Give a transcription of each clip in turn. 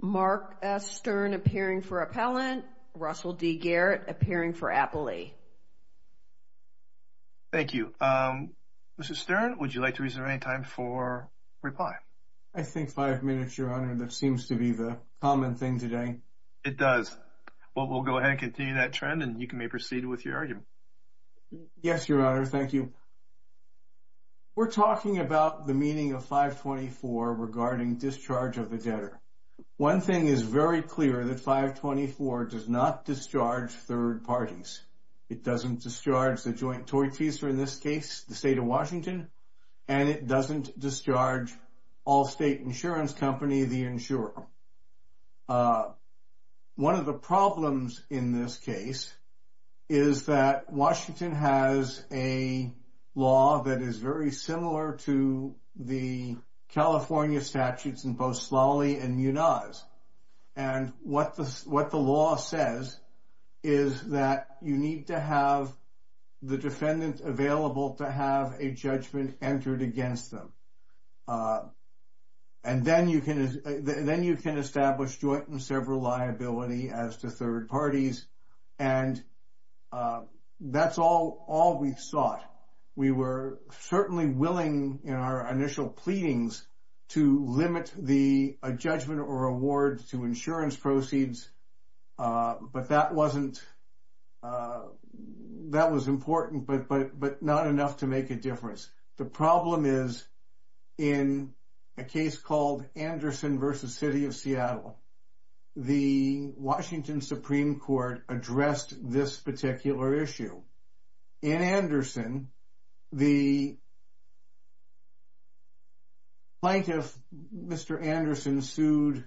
Mark S. Stern appearing for Appellant, Russell D. Garrett appearing for Appellee. Thank you. Mr. Stern, would you like to reserve any time for reply? I think five minutes, Your Honor. That seems to be the common thing today. It does. Well, we'll go ahead and continue that trend, and you may proceed with your argument. Yes, Your Honor. Thank you. We're talking about the meaning of 524 regarding discharge of the debtor. One thing is very clear that 524 does not discharge third parties. It doesn't discharge the joint torteaser in this case, the state of Washington, and it doesn't discharge all state insurance company, the insurer. One of the problems in this case is that Washington has a law that is very similar to the California statutes in both Slally and Munoz. And what the law says is that you need to have the defendant available to have a judgment entered against them. And then you can establish joint and several liability as to third parties. And that's all we've sought. We were certainly willing in our initial pleadings to limit the judgment or award to insurance proceeds. But that wasn't – that was important, but not enough to make a difference. The problem is in a case called Anderson v. City of Seattle, the Washington Supreme Court addressed this particular issue. In Anderson, the plaintiff, Mr. Anderson, sued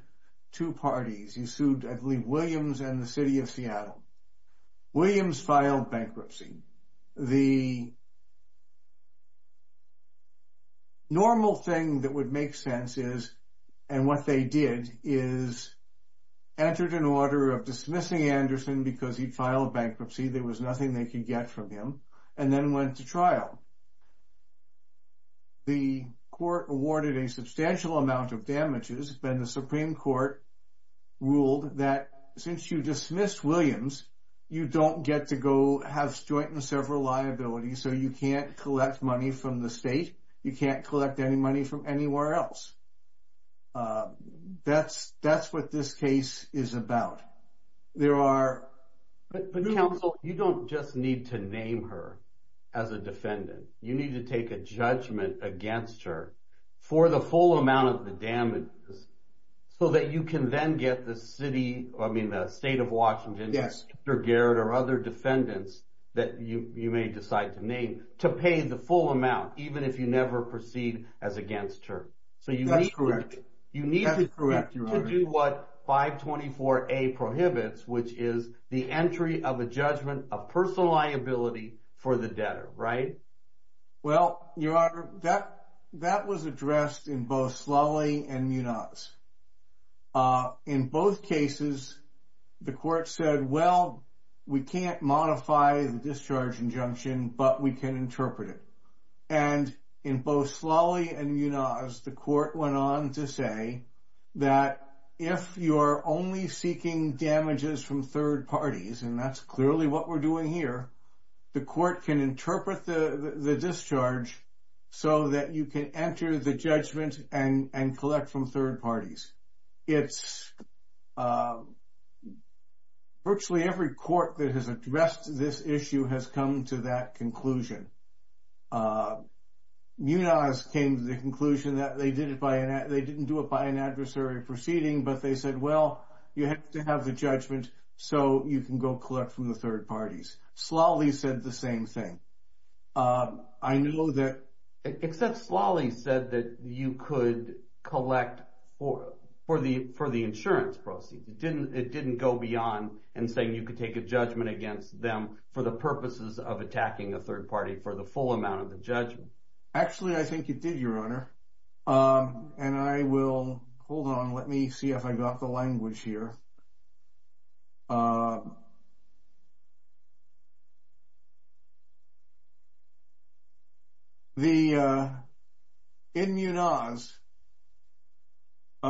two parties. He sued, I believe, Williams and the City of Seattle. Williams filed bankruptcy. The normal thing that would make sense is – and what they did is entered an order of dismissing Anderson because he filed bankruptcy. There was nothing they could get from him and then went to trial. The court awarded a substantial amount of damages. Then the Supreme Court ruled that since you dismissed Williams, you don't get to go have joint and several liabilities. So you can't collect money from the state. You can't collect any money from anywhere else. That's what this case is about. There are – But counsel, you don't just need to name her as a defendant. You need to take a judgment against her for the full amount of the damages so that you can then get the city – I mean the state of Washington, Mr. Garrett or other defendants that you may decide to name to pay the full amount even if you never proceed as against her. That's correct. You need to do what 524A prohibits, which is the entry of a judgment of personal liability for the debtor. Right? Well, Your Honor, that was addressed in both Slally and Munoz. In both cases, the court said, well, we can't modify the discharge injunction, but we can interpret it. And in both Slally and Munoz, the court went on to say that if you're only seeking damages from third parties, and that's clearly what we're doing here, the court can interpret the discharge so that you can enter the judgment and collect from third parties. Virtually every court that has addressed this issue has come to that conclusion. Munoz came to the conclusion that they didn't do it by an adversary proceeding, but they said, well, you have to have the judgment so you can go collect from the third parties. Slally said the same thing. I know that. Except Slally said that you could collect for the insurance proceeds. It didn't go beyond in saying you could take a judgment against them for the purposes of attacking a third party for the full amount of the judgment. Actually, I think it did, Your Honor. And I will hold on. Let me see if I got the language here. In Munoz, quoting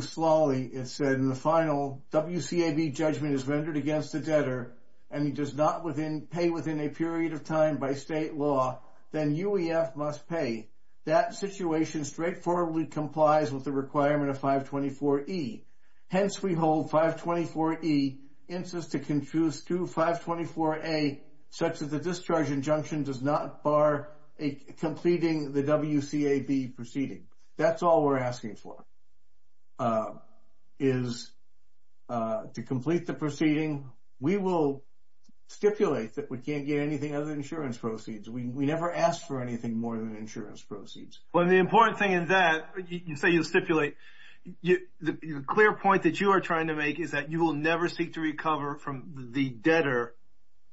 Slally, it said in the final, WCAB judgment is rendered against the debtor, and he does not pay within a period of time by state law, then UEF must pay. That situation straightforwardly complies with the requirement of 524E. Hence, we hold 524E, incest to confuse to 524A, such as the discharge injunction does not bar completing the WCAB proceeding. That's all we're asking for is to complete the proceeding. We will stipulate that we can't get anything other than insurance proceeds. We never ask for anything more than insurance proceeds. Well, the important thing in that, you say you stipulate. The clear point that you are trying to make is that you will never seek to recover from the debtor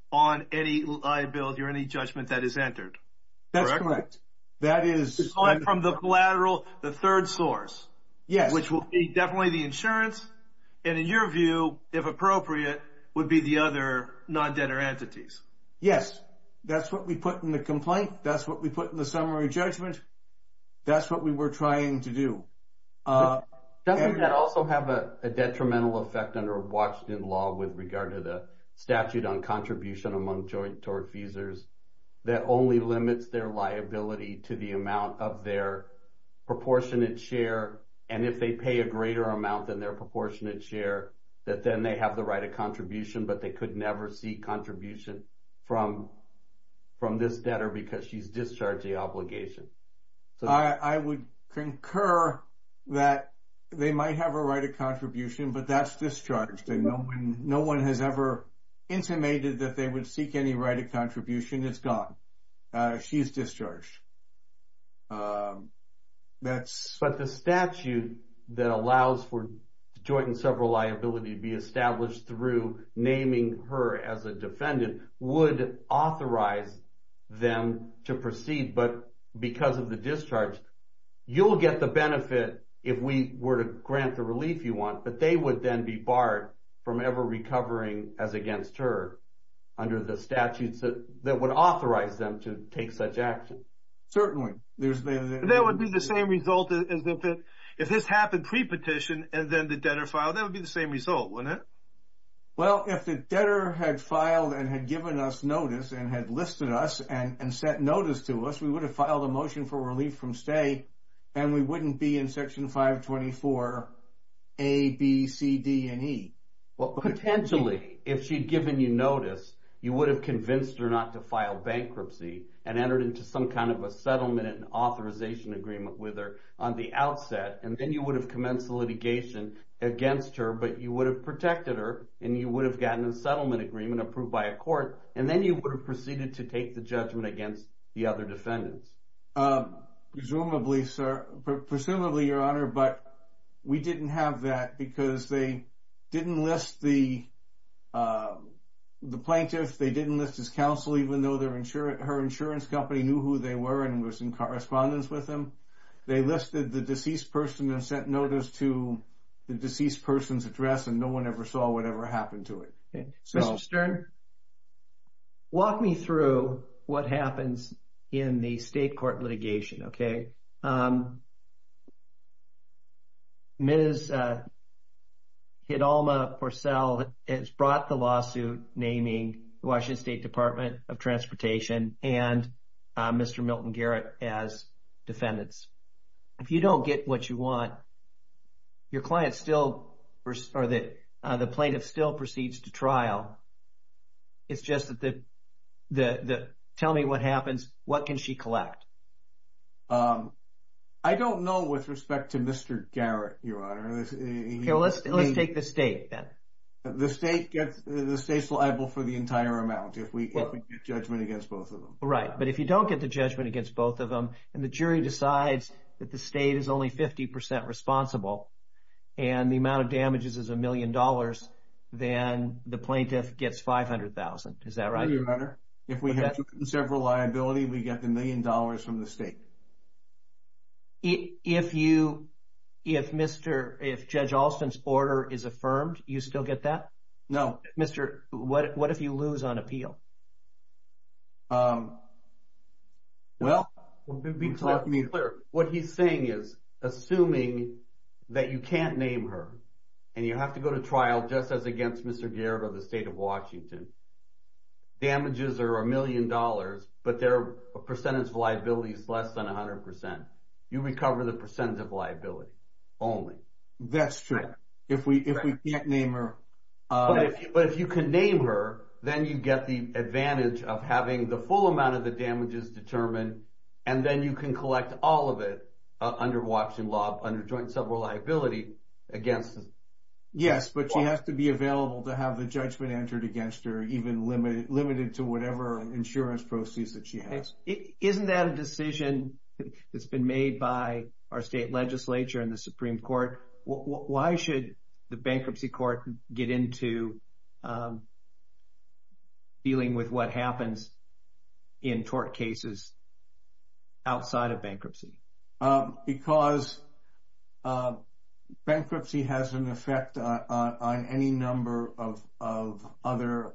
on any liability or any judgment that is entered. That's correct. That is. Aside from the collateral, the third source. Yes. Which will be definitely the insurance, and in your view, if appropriate, would be the other non-debtor entities. Yes. That's what we put in the complaint. That's what we put in the summary judgment. That's what we were trying to do. Doesn't that also have a detrimental effect under Washington law with regard to the statute on contribution among joint tort feasors that only limits their liability to the amount of their proportionate share, and if they pay a greater amount than their proportionate share, that then they have the right of contribution, but they could never seek contribution from this debtor because she's discharged the obligation? I would concur that they might have a right of contribution, but that's discharged. No one has ever intimated that they would seek any right of contribution. It's gone. She is discharged. But the statute that allows for joint and several liability to be established through naming her as a defendant would authorize them to proceed, but because of the discharge, you'll get the benefit if we were to grant the relief you want, but they would then be barred from ever recovering as against her under the statutes that would authorize them to take such action. That would be the same result as if this happened pre-petition and then the debtor filed. That would be the same result, wouldn't it? Well, if the debtor had filed and had given us notice and had listed us and sent notice to us, we would have filed a motion for relief from stay, and we wouldn't be in Section 524A, B, C, D, and E. Well, potentially, if she'd given you notice, you would have convinced her not to file bankruptcy and entered into some kind of a settlement and authorization agreement with her on the outset, and then you would have commenced the litigation against her, but you would have protected her, and you would have gotten a settlement agreement approved by a court, and then you would have proceeded to take the judgment against the other defendants. Presumably, Your Honor, but we didn't have that because they didn't list the plaintiff, they didn't list his counsel, even though her insurance company knew who they were and was in correspondence with them. They listed the deceased person and sent notice to the deceased person's address, and no one ever saw whatever happened to it. Mr. Stern, walk me through what happens in the state court litigation, okay? Ms. Hidalma Porcel has brought the lawsuit naming the Washington State Department of Transportation and Mr. Milton Garrett as defendants. If you don't get what you want, your client still, or the plaintiff still proceeds to trial. It's just that the, tell me what happens, what can she collect? I don't know with respect to Mr. Garrett, Your Honor. Let's take the state then. The state gets, the state's liable for the entire amount if we get judgment against both of them. Right, but if you don't get the judgment against both of them and the jury decides that the state is only 50% responsible and the amount of damages is a million dollars, then the plaintiff gets $500,000. Is that right? Yes, Your Honor. If we have two conservative liabilities, we get the million dollars from the state. If you, if Mr., if Judge Alston's order is affirmed, you still get that? No. Mr., what if you lose on appeal? Well, what he's saying is, assuming that you can't name her and you have to go to trial just as against Mr. Garrett or the state of Washington, damages are a million dollars, but their percentage of liability is less than 100%. You recover the percentage of liability only. That's true. If we can't name her. But if you can name her, then you get the advantage of having the full amount of the damages determined, and then you can collect all of it under Washington law, under joint civil liability against. Yes, but she has to be available to have the judgment entered against her, even limited to whatever insurance proceeds that she has. Isn't that a decision that's been made by our state legislature and the Supreme Court? Why should the bankruptcy court get into dealing with what happens in tort cases outside of bankruptcy? Because bankruptcy has an effect on any number of other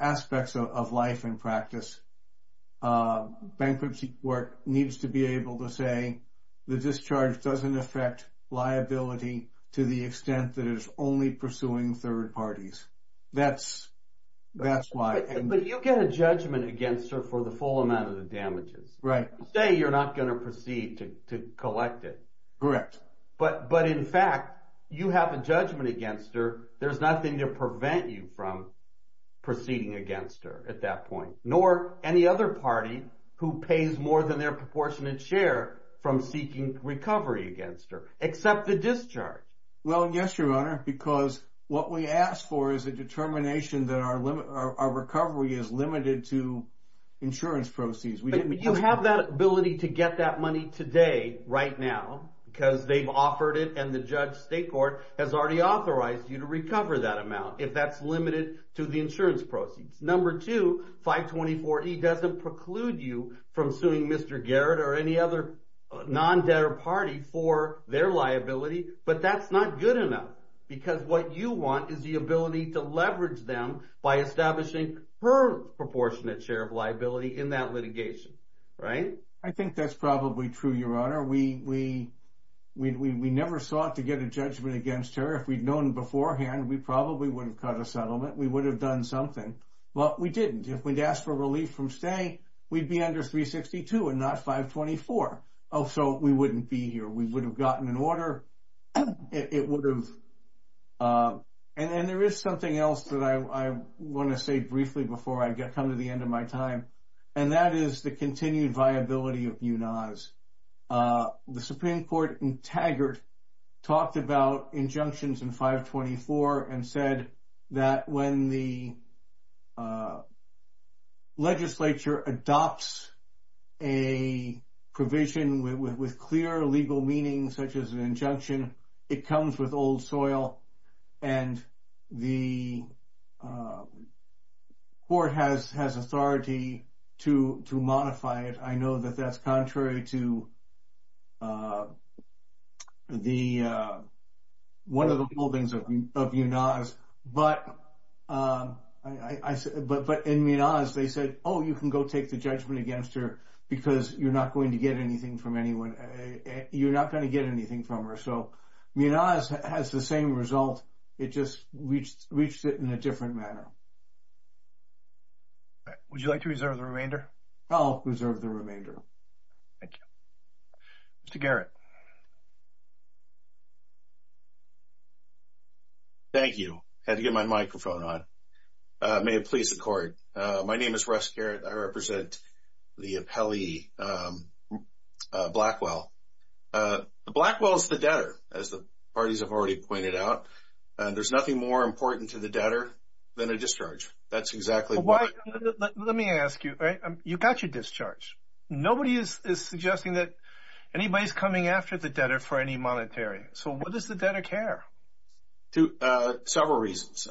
aspects of life and practice. Bankruptcy court needs to be able to say the discharge doesn't affect liability to the extent that it's only pursuing third parties. That's why. But you get a judgment against her for the full amount of the damages. Right. Say you're not going to proceed to collect it. Correct. But in fact, you have a judgment against her. There's nothing to prevent you from proceeding against her at that point, nor any other party who pays more than their proportionate share from seeking recovery against her, except the discharge. Well, yes, Your Honor, because what we ask for is a determination that our recovery is limited to insurance proceeds. But you have that ability to get that money today, right now, because they've offered it, and the judge state court has already authorized you to recover that amount if that's limited to the insurance proceeds. Number two, 524E doesn't preclude you from suing Mr. Garrett or any other non-debtor party for their liability, but that's not good enough, because what you want is the ability to leverage them by establishing her proportionate share of liability in that litigation, right? I think that's probably true, Your Honor. We never sought to get a judgment against her. If we'd known beforehand, we probably would have cut a settlement. We would have done something. Well, we didn't. If we'd asked for relief from stay, we'd be under 362 and not 524. Oh, so we wouldn't be here. We would have gotten an order. It would have. And there is something else that I want to say briefly before I come to the end of my time, and that is the continued viability of BUNAS. The Supreme Court in Taggart talked about injunctions in 524 and said that when the legislature adopts a provision with clear legal meaning, such as an injunction, it comes with old soil, and the court has authority to modify it. I know that that's contrary to one of the holdings of BUNAS, but in BUNAS they said, oh, you can go take the judgment against her because you're not going to get anything from her. So BUNAS has the same result, it just reached it in a different manner. Would you like to reserve the remainder? I'll reserve the remainder. Thank you. Mr. Garrett. Thank you. Had to get my microphone on. May it please the Court. My name is Russ Garrett. I represent the appellee Blackwell. Blackwell is the debtor, as the parties have already pointed out. There's nothing more important to the debtor than a discharge. That's exactly why. Let me ask you, you got your discharge. Nobody is suggesting that anybody is coming after the debtor for any monetary. So what does the debtor care? Several reasons.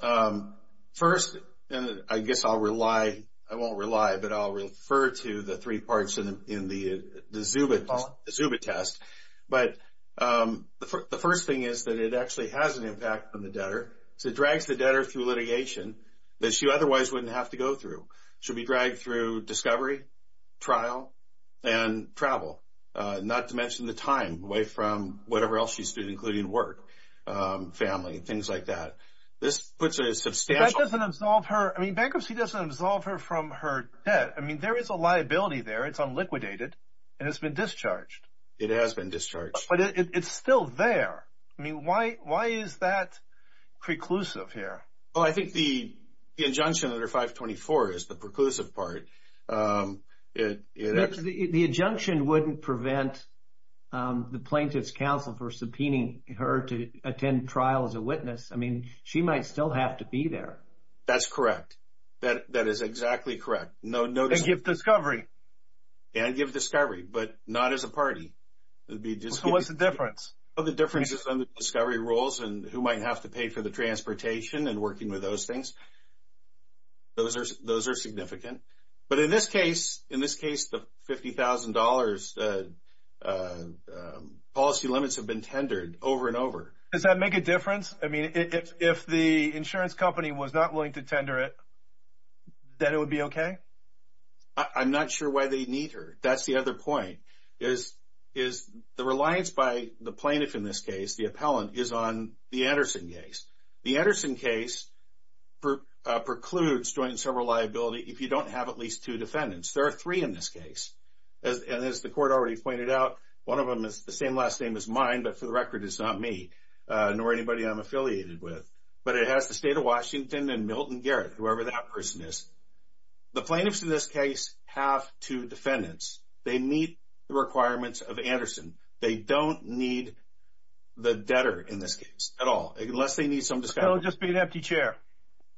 First, and I guess I'll rely, I won't rely, but I'll refer to the three parts in the Zubit test. But the first thing is that it actually has an impact on the debtor. So it drags the debtor through litigation that she otherwise wouldn't have to go through. She'll be dragged through discovery, trial, and travel, not to mention the time, away from whatever else she's doing, including work, family, things like that. This puts a substantial. That doesn't absolve her. I mean bankruptcy doesn't absolve her from her debt. I mean there is a liability there. It's unliquidated, and it's been discharged. It has been discharged. But it's still there. I mean why is that preclusive here? I think the injunction under 524 is the preclusive part. The injunction wouldn't prevent the plaintiff's counsel from subpoenaing her to attend trial as a witness. I mean she might still have to be there. That's correct. That is exactly correct. And give discovery. And give discovery, but not as a party. So what's the difference? Well, the difference is on the discovery rules and who might have to pay for the transportation and working with those things. Those are significant. But in this case, the $50,000 policy limits have been tendered over and over. Does that make a difference? I mean if the insurance company was not willing to tender it, then it would be okay? I'm not sure why they need her. That's the other point. The reliance by the plaintiff in this case, the appellant, is on the Anderson case. The Anderson case precludes joint and several liability if you don't have at least two defendants. There are three in this case. And as the court already pointed out, one of them has the same last name as mine, but for the record it's not me nor anybody I'm affiliated with. But it has the state of Washington and Milton Garrett, whoever that person is. The plaintiffs in this case have two defendants. They meet the requirements of Anderson. They don't need the debtor in this case at all, unless they need some discovery. So it would just be an empty chair?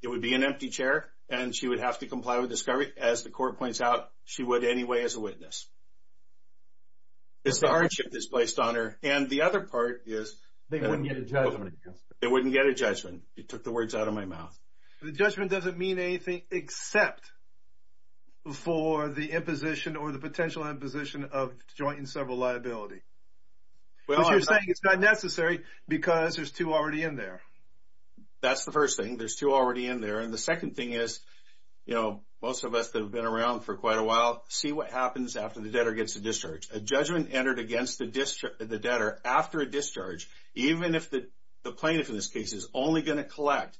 It would be an empty chair, and she would have to comply with discovery. As the court points out, she would anyway as a witness. It's the hardship that's placed on her. And the other part is they wouldn't get a judgment. They wouldn't get a judgment. You took the words out of my mouth. The judgment doesn't mean anything except for the imposition or the potential imposition of joint and several liability. But you're saying it's not necessary because there's two already in there. That's the first thing. There's two already in there. And the second thing is, you know, most of us that have been around for quite a while see what happens after the debtor gets a discharge. A judgment entered against the debtor after a discharge, even if the plaintiff in this case is only going to collect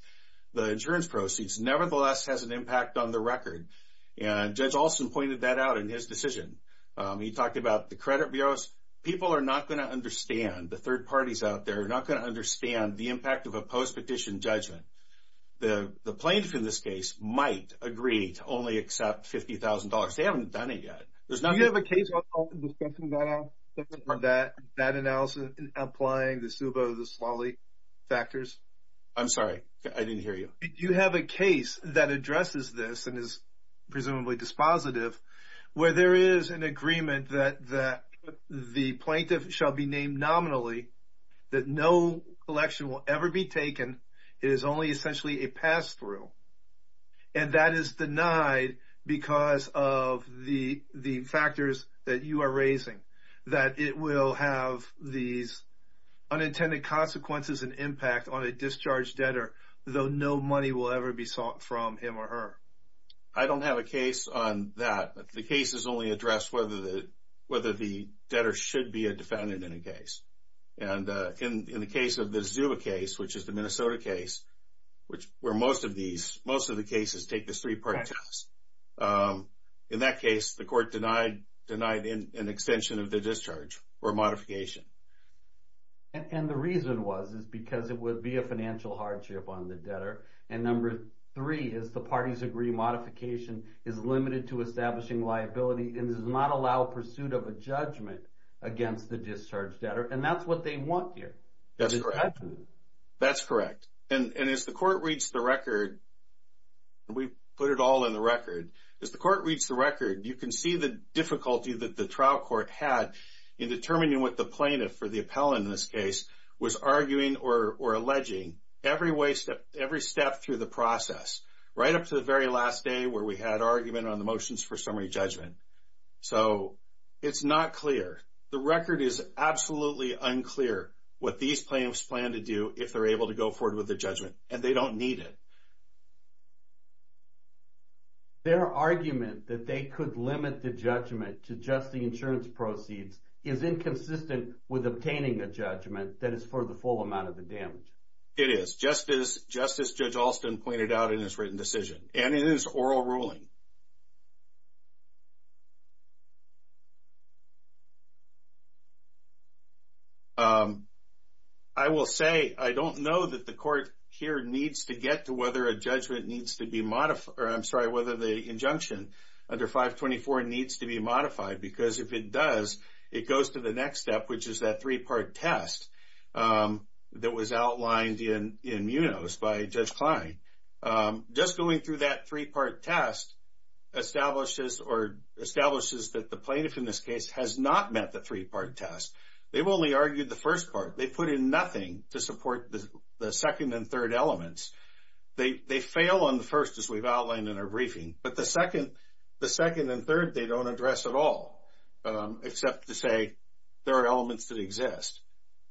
the insurance proceeds, nevertheless has an impact on the record. And Judge Alston pointed that out in his decision. He talked about the credit bureaus. People are not going to understand, the third parties out there, are not going to understand the impact of a post-petition judgment. The plaintiff in this case might agree to only accept $50,000. They haven't done it yet. Do you have a case discussing that analysis, applying the SUBO, the SLALI factors? I'm sorry. I didn't hear you. You have a case that addresses this and is presumably dispositive, where there is an agreement that the plaintiff shall be named nominally, that no election will ever be taken. It is only essentially a pass-through. And that is denied because of the factors that you are raising, that it will have these unintended consequences and impact on a discharged debtor, though no money will ever be sought from him or her. I don't have a case on that. The case has only addressed whether the debtor should be a defendant in a case. And in the case of the SUBO case, which is the Minnesota case, where most of the cases take this three-part test, in that case the court denied an extension of the discharge or modification. And the reason was because it would be a financial hardship on the debtor. And number three is the parties agree modification is limited to establishing liability and does not allow pursuit of a judgment against the discharged debtor. And that's what they want here. That's correct. And as the court reads the record, and we put it all in the record, as the court reads the record, you can see the difficulty that the trial court had in determining what the plaintiff, or the appellant in this case, was arguing or alleging every step through the process, right up to the very last day where we had argument on the motions for summary judgment. So it's not clear. The record is absolutely unclear what these plaintiffs plan to do if they're able to go forward with the judgment, and they don't need it. Their argument that they could limit the judgment to just the insurance proceeds is inconsistent with obtaining a judgment that is for the full amount of the damage. It is, just as Judge Alston pointed out in his written decision, and in his oral ruling. I will say, I don't know that the court here needs to get to whether a judgment needs to be modified, or I'm sorry, whether the injunction under 524 needs to be modified, because if it does, it goes to the next step, which is that three-part test that was outlined in MUNOS by Judge Klein. Just going through that three-part test establishes that the plaintiff in this case has not met the three-part test. They've only argued the first part. They've put in nothing to support the second and third elements. They fail on the first, as we've outlined in our briefing, but the second and third they don't address at all, except to say there are elements that exist.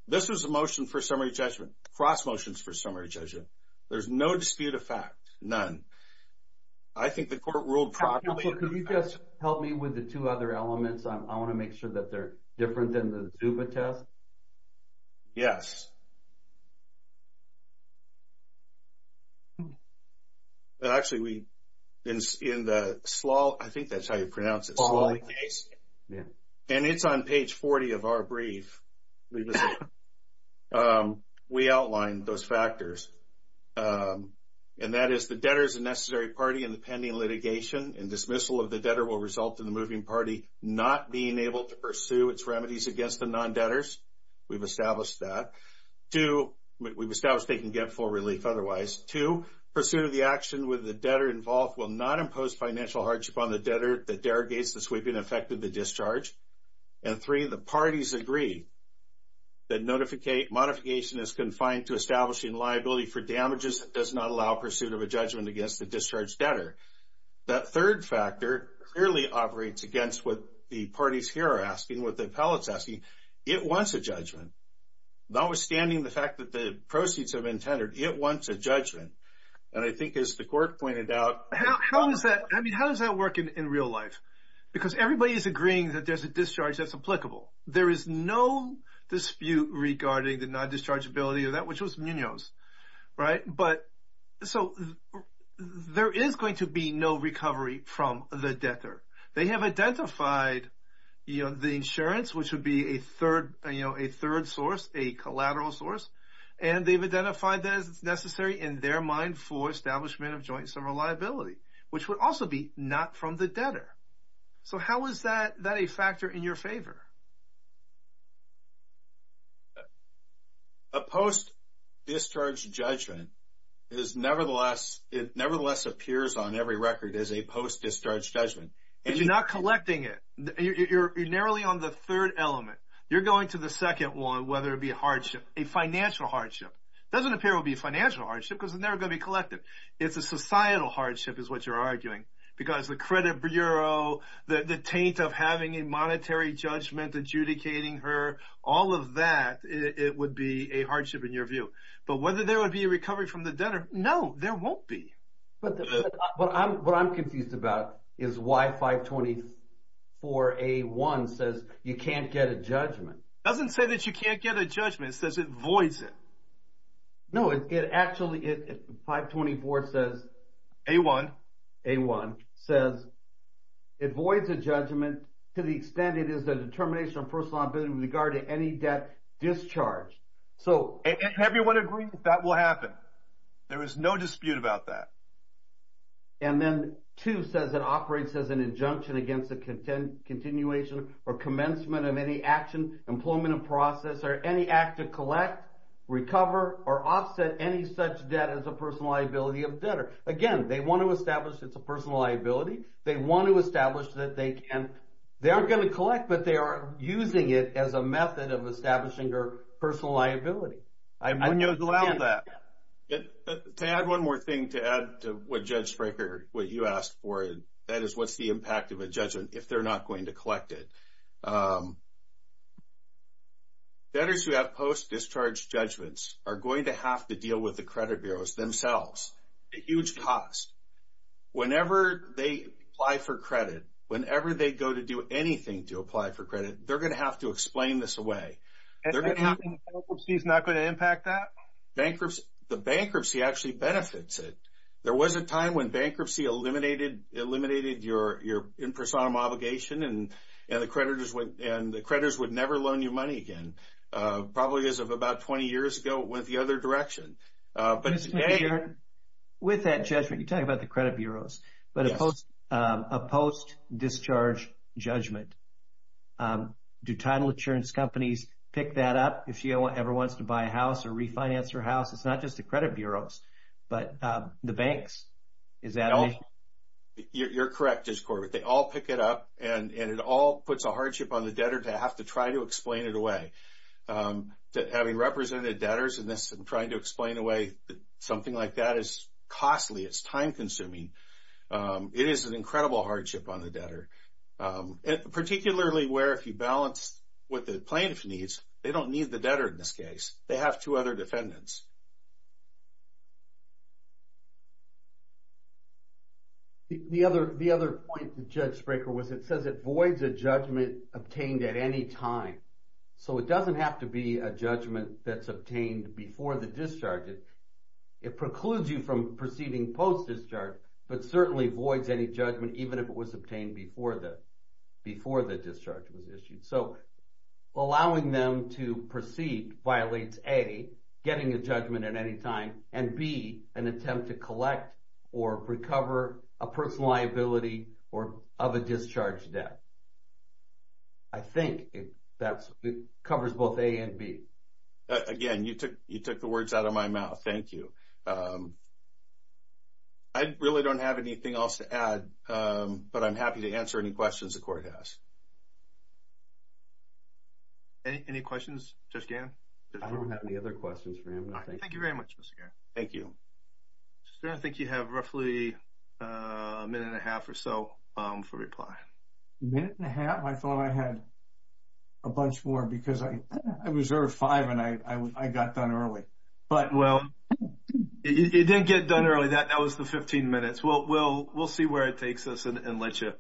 This was a motion for summary judgment, cross motions for summary judgment. There's no dispute of fact, none. I think the court ruled properly. Counselor, could you just help me with the two other elements? I want to make sure that they're different than the Zuba test. Yes. Actually, in the Slally case, and it's on page 40 of our brief, we outlined those factors, and that is the debtor is a necessary party in the pending litigation, and dismissal of the debtor will result in the moving party not being able to pursue its remedies against the non-debtors. We've established that. Two, we've established they can get full relief otherwise. Two, pursuit of the action with the debtor involved will not impose financial hardship on the debtor that derogates the sweeping effect of the discharge. And three, the parties agree that modification is confined to establishing liability for damages that does not allow pursuit of a judgment against the discharged debtor. That third factor clearly operates against what the parties here are asking, what the appellate's asking. It wants a judgment. Notwithstanding the fact that the proceeds have been tendered, it wants a judgment. And I think, as the court pointed out, How does that work in real life? Because everybody is agreeing that there's a discharge that's applicable. There is no dispute regarding the non-dischargeability of that, which was Munoz, right? But so there is going to be no recovery from the debtor. They have identified, you know, the insurance, which would be a third source, a collateral source, and they've identified that it's necessary in their mind for establishment of joint sum of liability, which would also be not from the debtor. So how is that a factor in your favor? A post-discharge judgment nevertheless appears on every record as a post-discharge judgment. But you're not collecting it. You're narrowly on the third element. You're going to the second one, whether it be a hardship, a financial hardship. It doesn't appear to be a financial hardship because it's never going to be collected. It's a societal hardship is what you're arguing because the credit bureau, the taint of having a monetary judgment adjudicating her, all of that, it would be a hardship in your view. But whether there would be a recovery from the debtor, no, there won't be. But what I'm confused about is why 524A1 says you can't get a judgment. It doesn't say that you can't get a judgment. It says it voids it. No, it actually, 524 says. A1. A1 says it voids a judgment to the extent it is a determination of personal liability with regard to any debt discharged. And everyone agrees that that will happen. There is no dispute about that. And then two says it operates as an injunction against a continuation or commencement of any action, employment of process or any act to collect, recover, or offset any such debt as a personal liability of debtor. Again, they want to establish it's a personal liability. They want to establish that they can't. They aren't going to collect, but they are using it as a method of establishing her personal liability. When you allow that. To add one more thing to add to what Judge Springer, what you asked for, that is what's the impact of a judgment if they're not going to collect it. Debtors who have post-discharge judgments are going to have to deal with the credit bureaus themselves at huge cost. Whenever they apply for credit, whenever they go to do anything to apply for credit, they're going to have to explain this away. Bankruptcy is not going to impact that? Bankruptcy, the bankruptcy actually benefits it. There was a time when bankruptcy eliminated your in person obligation and the creditors would never loan you money again. Probably as of about 20 years ago, it went the other direction. With that judgment, you're talking about the credit bureaus, but a post-discharge judgment, do title insurance companies pick that up? If she ever wants to buy a house or refinance her house, it's not just the credit bureaus, but the banks, is that it? You're correct, Judge Corbett. They all pick it up and it all puts a hardship on the debtor to have to try to explain it away. Having represented debtors in this and trying to explain away something like that is costly. It's time consuming. It is an incredible hardship on the debtor, particularly where if you balance what the plaintiff needs, they don't need the debtor in this case. They have two other defendants. The other point, Judge Spraker, was it says it voids a judgment obtained at any time. So it doesn't have to be a judgment that's obtained before the discharge. It precludes you from proceeding post-discharge, but certainly voids any judgment even if it was obtained before the discharge was issued. So allowing them to proceed violates A, getting a judgment at any time, and B, an attempt to collect or recover a personal liability or of a discharge debt. I think that covers both A and B. Again, you took the words out of my mouth. Thank you. I really don't have anything else to add, but I'm happy to answer any questions the court has. Any questions, Judge Gannon? I don't have any other questions for him. Thank you very much, Mr. Gannon. Thank you. I think you have roughly a minute and a half or so for reply. A minute and a half? I thought I had a bunch more because I reserved five and I got done early. It didn't get done early. That was the 15 minutes. We'll see where it takes us and let you.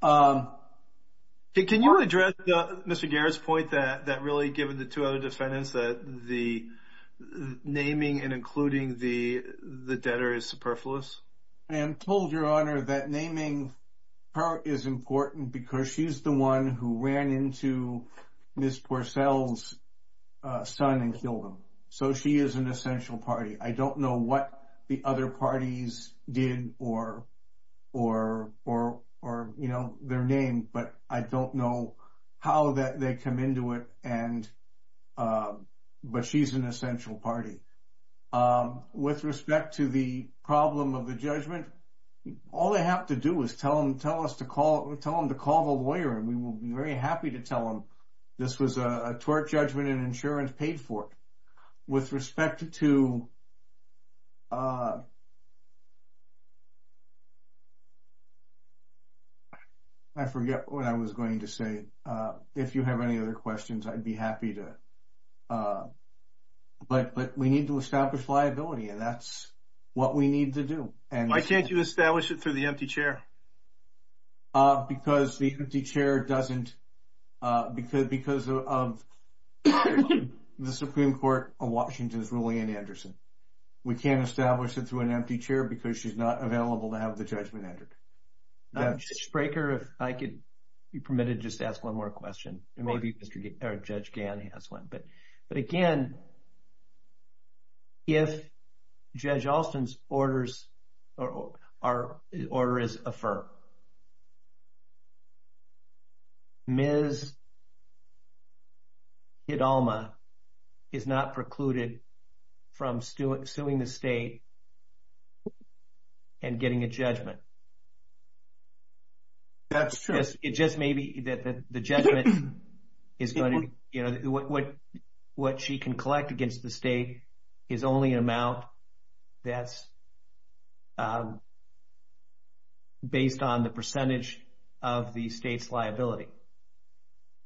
Can you address Mr. Garrett's point that really, given the two other defendants, that the naming and including the debtor is superfluous? I told your Honor that naming her is important because she's the one who ran into Ms. Porcell's son and killed him. So she is an essential party. I don't know what the other parties did or their name, but I don't know how they come into it, but she's an essential party. With respect to the problem of the judgment, all they have to do is tell them to call the lawyer, and we will be very happy to tell them this was a tort judgment and insurance paid for it. With respect to – I forget what I was going to say. If you have any other questions, I'd be happy to. But we need to establish liability, and that's what we need to do. Why can't you establish it through the empty chair? Because the empty chair doesn't – because of the Supreme Court of Washington's ruling in Anderson. We can't establish it through an empty chair because she's not available to have the judgment entered. Mr. Spraker, if I could be permitted to just ask one more question, and maybe Judge Gann has one. But again, if Judge Alston's order is affirmed, Ms. Hidalma is not precluded from suing the state and getting a judgment. That's true. It just may be that the judgment is going to – what she can collect against the state is only an amount that's based on the percentage of the state's liability.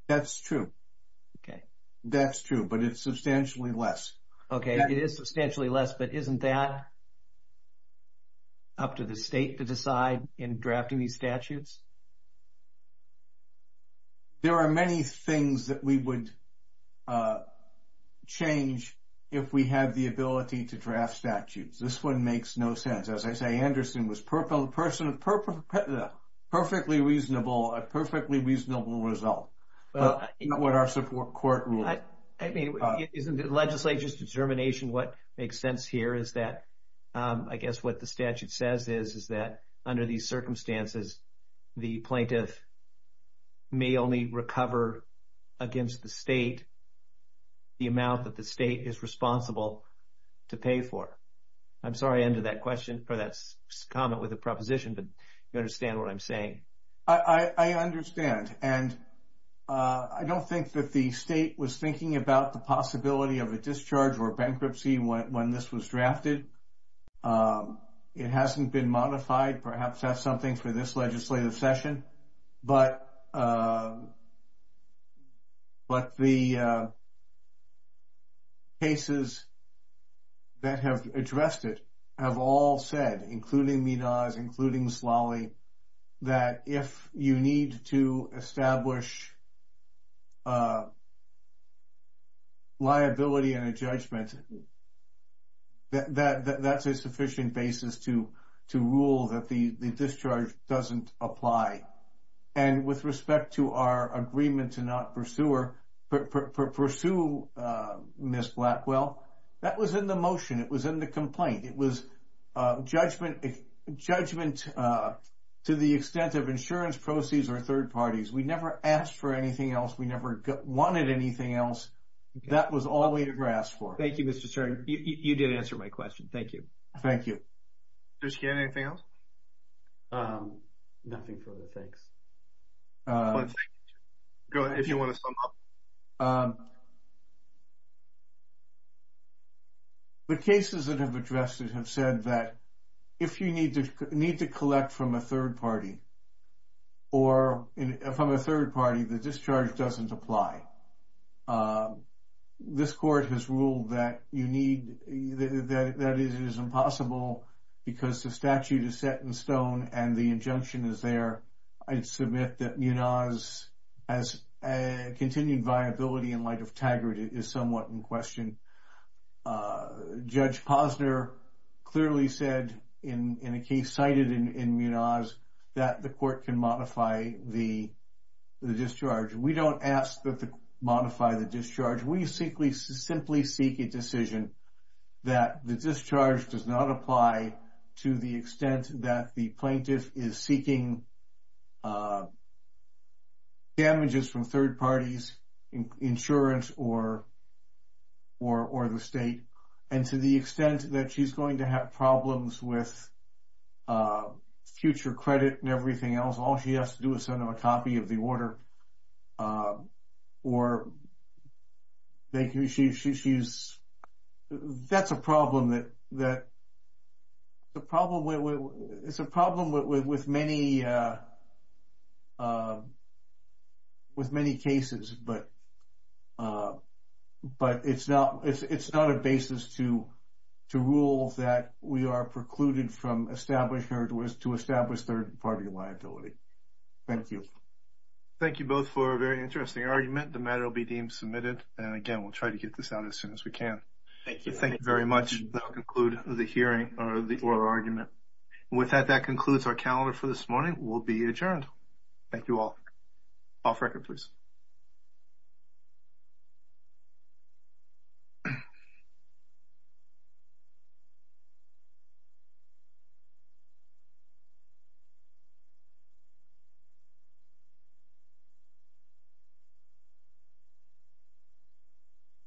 That's true. That's true, but it's substantially less. Okay, it is substantially less, but isn't that up to the state to decide in drafting these statutes? There are many things that we would change if we had the ability to draft statutes. This one makes no sense. As I say, Anderson was a perfectly reasonable result, not what our support court ruled. I mean, isn't the legislature's determination what makes sense here is that, I guess what the statute says is that under these circumstances, the plaintiff may only recover against the state the amount that the state is responsible to pay for. I'm sorry I ended that comment with a proposition, but you understand what I'm saying. I understand, and I don't think that the state was thinking about the possibility of a discharge or bankruptcy when this was drafted. It hasn't been modified. Perhaps that's something for this legislative session. But the cases that have addressed it have all said, including Midas, including Slally, that if you need to establish liability and a judgment, that's a sufficient basis to rule that the discharge doesn't apply. And with respect to our agreement to not pursue Ms. Blackwell, that was in the motion. It was in the complaint. It was judgment to the extent of insurance proceeds or third parties. We never asked for anything else. We never wanted anything else. That was all we had asked for. Thank you, Mr. Stern. You did answer my question. Thank you. Thank you. Mr. Stern, anything else? Nothing further. Thanks. Go ahead if you want to sum up. The cases that have addressed it have said that if you need to collect from a third party or from a third party, the discharge doesn't apply. This court has ruled that it is impossible because the statute is set in stone and the injunction is there. I'd submit that Munoz has continued viability in light of Taggart is somewhat in question. Judge Posner clearly said in a case cited in Munoz that the court can modify the discharge. We don't ask that they modify the discharge. We simply seek a decision that the discharge does not apply to the extent that the plaintiff is seeking damages from third parties, insurance, or the state, and to the extent that she's going to have problems with future credit and everything else, all she has to do is send them a copy of the order. Or that's a problem that is a problem with many cases, but it's not a basis to rule that we are precluded from establishing or to establish third-party liability. Thank you. Thank you both for a very interesting argument. The matter will be deemed submitted, and again, we'll try to get this out as soon as we can. Thank you very much. That will conclude the hearing or the oral argument. With that, that concludes our calendar for this morning. We'll be adjourned. Thank you all. Off record, please. Thank you.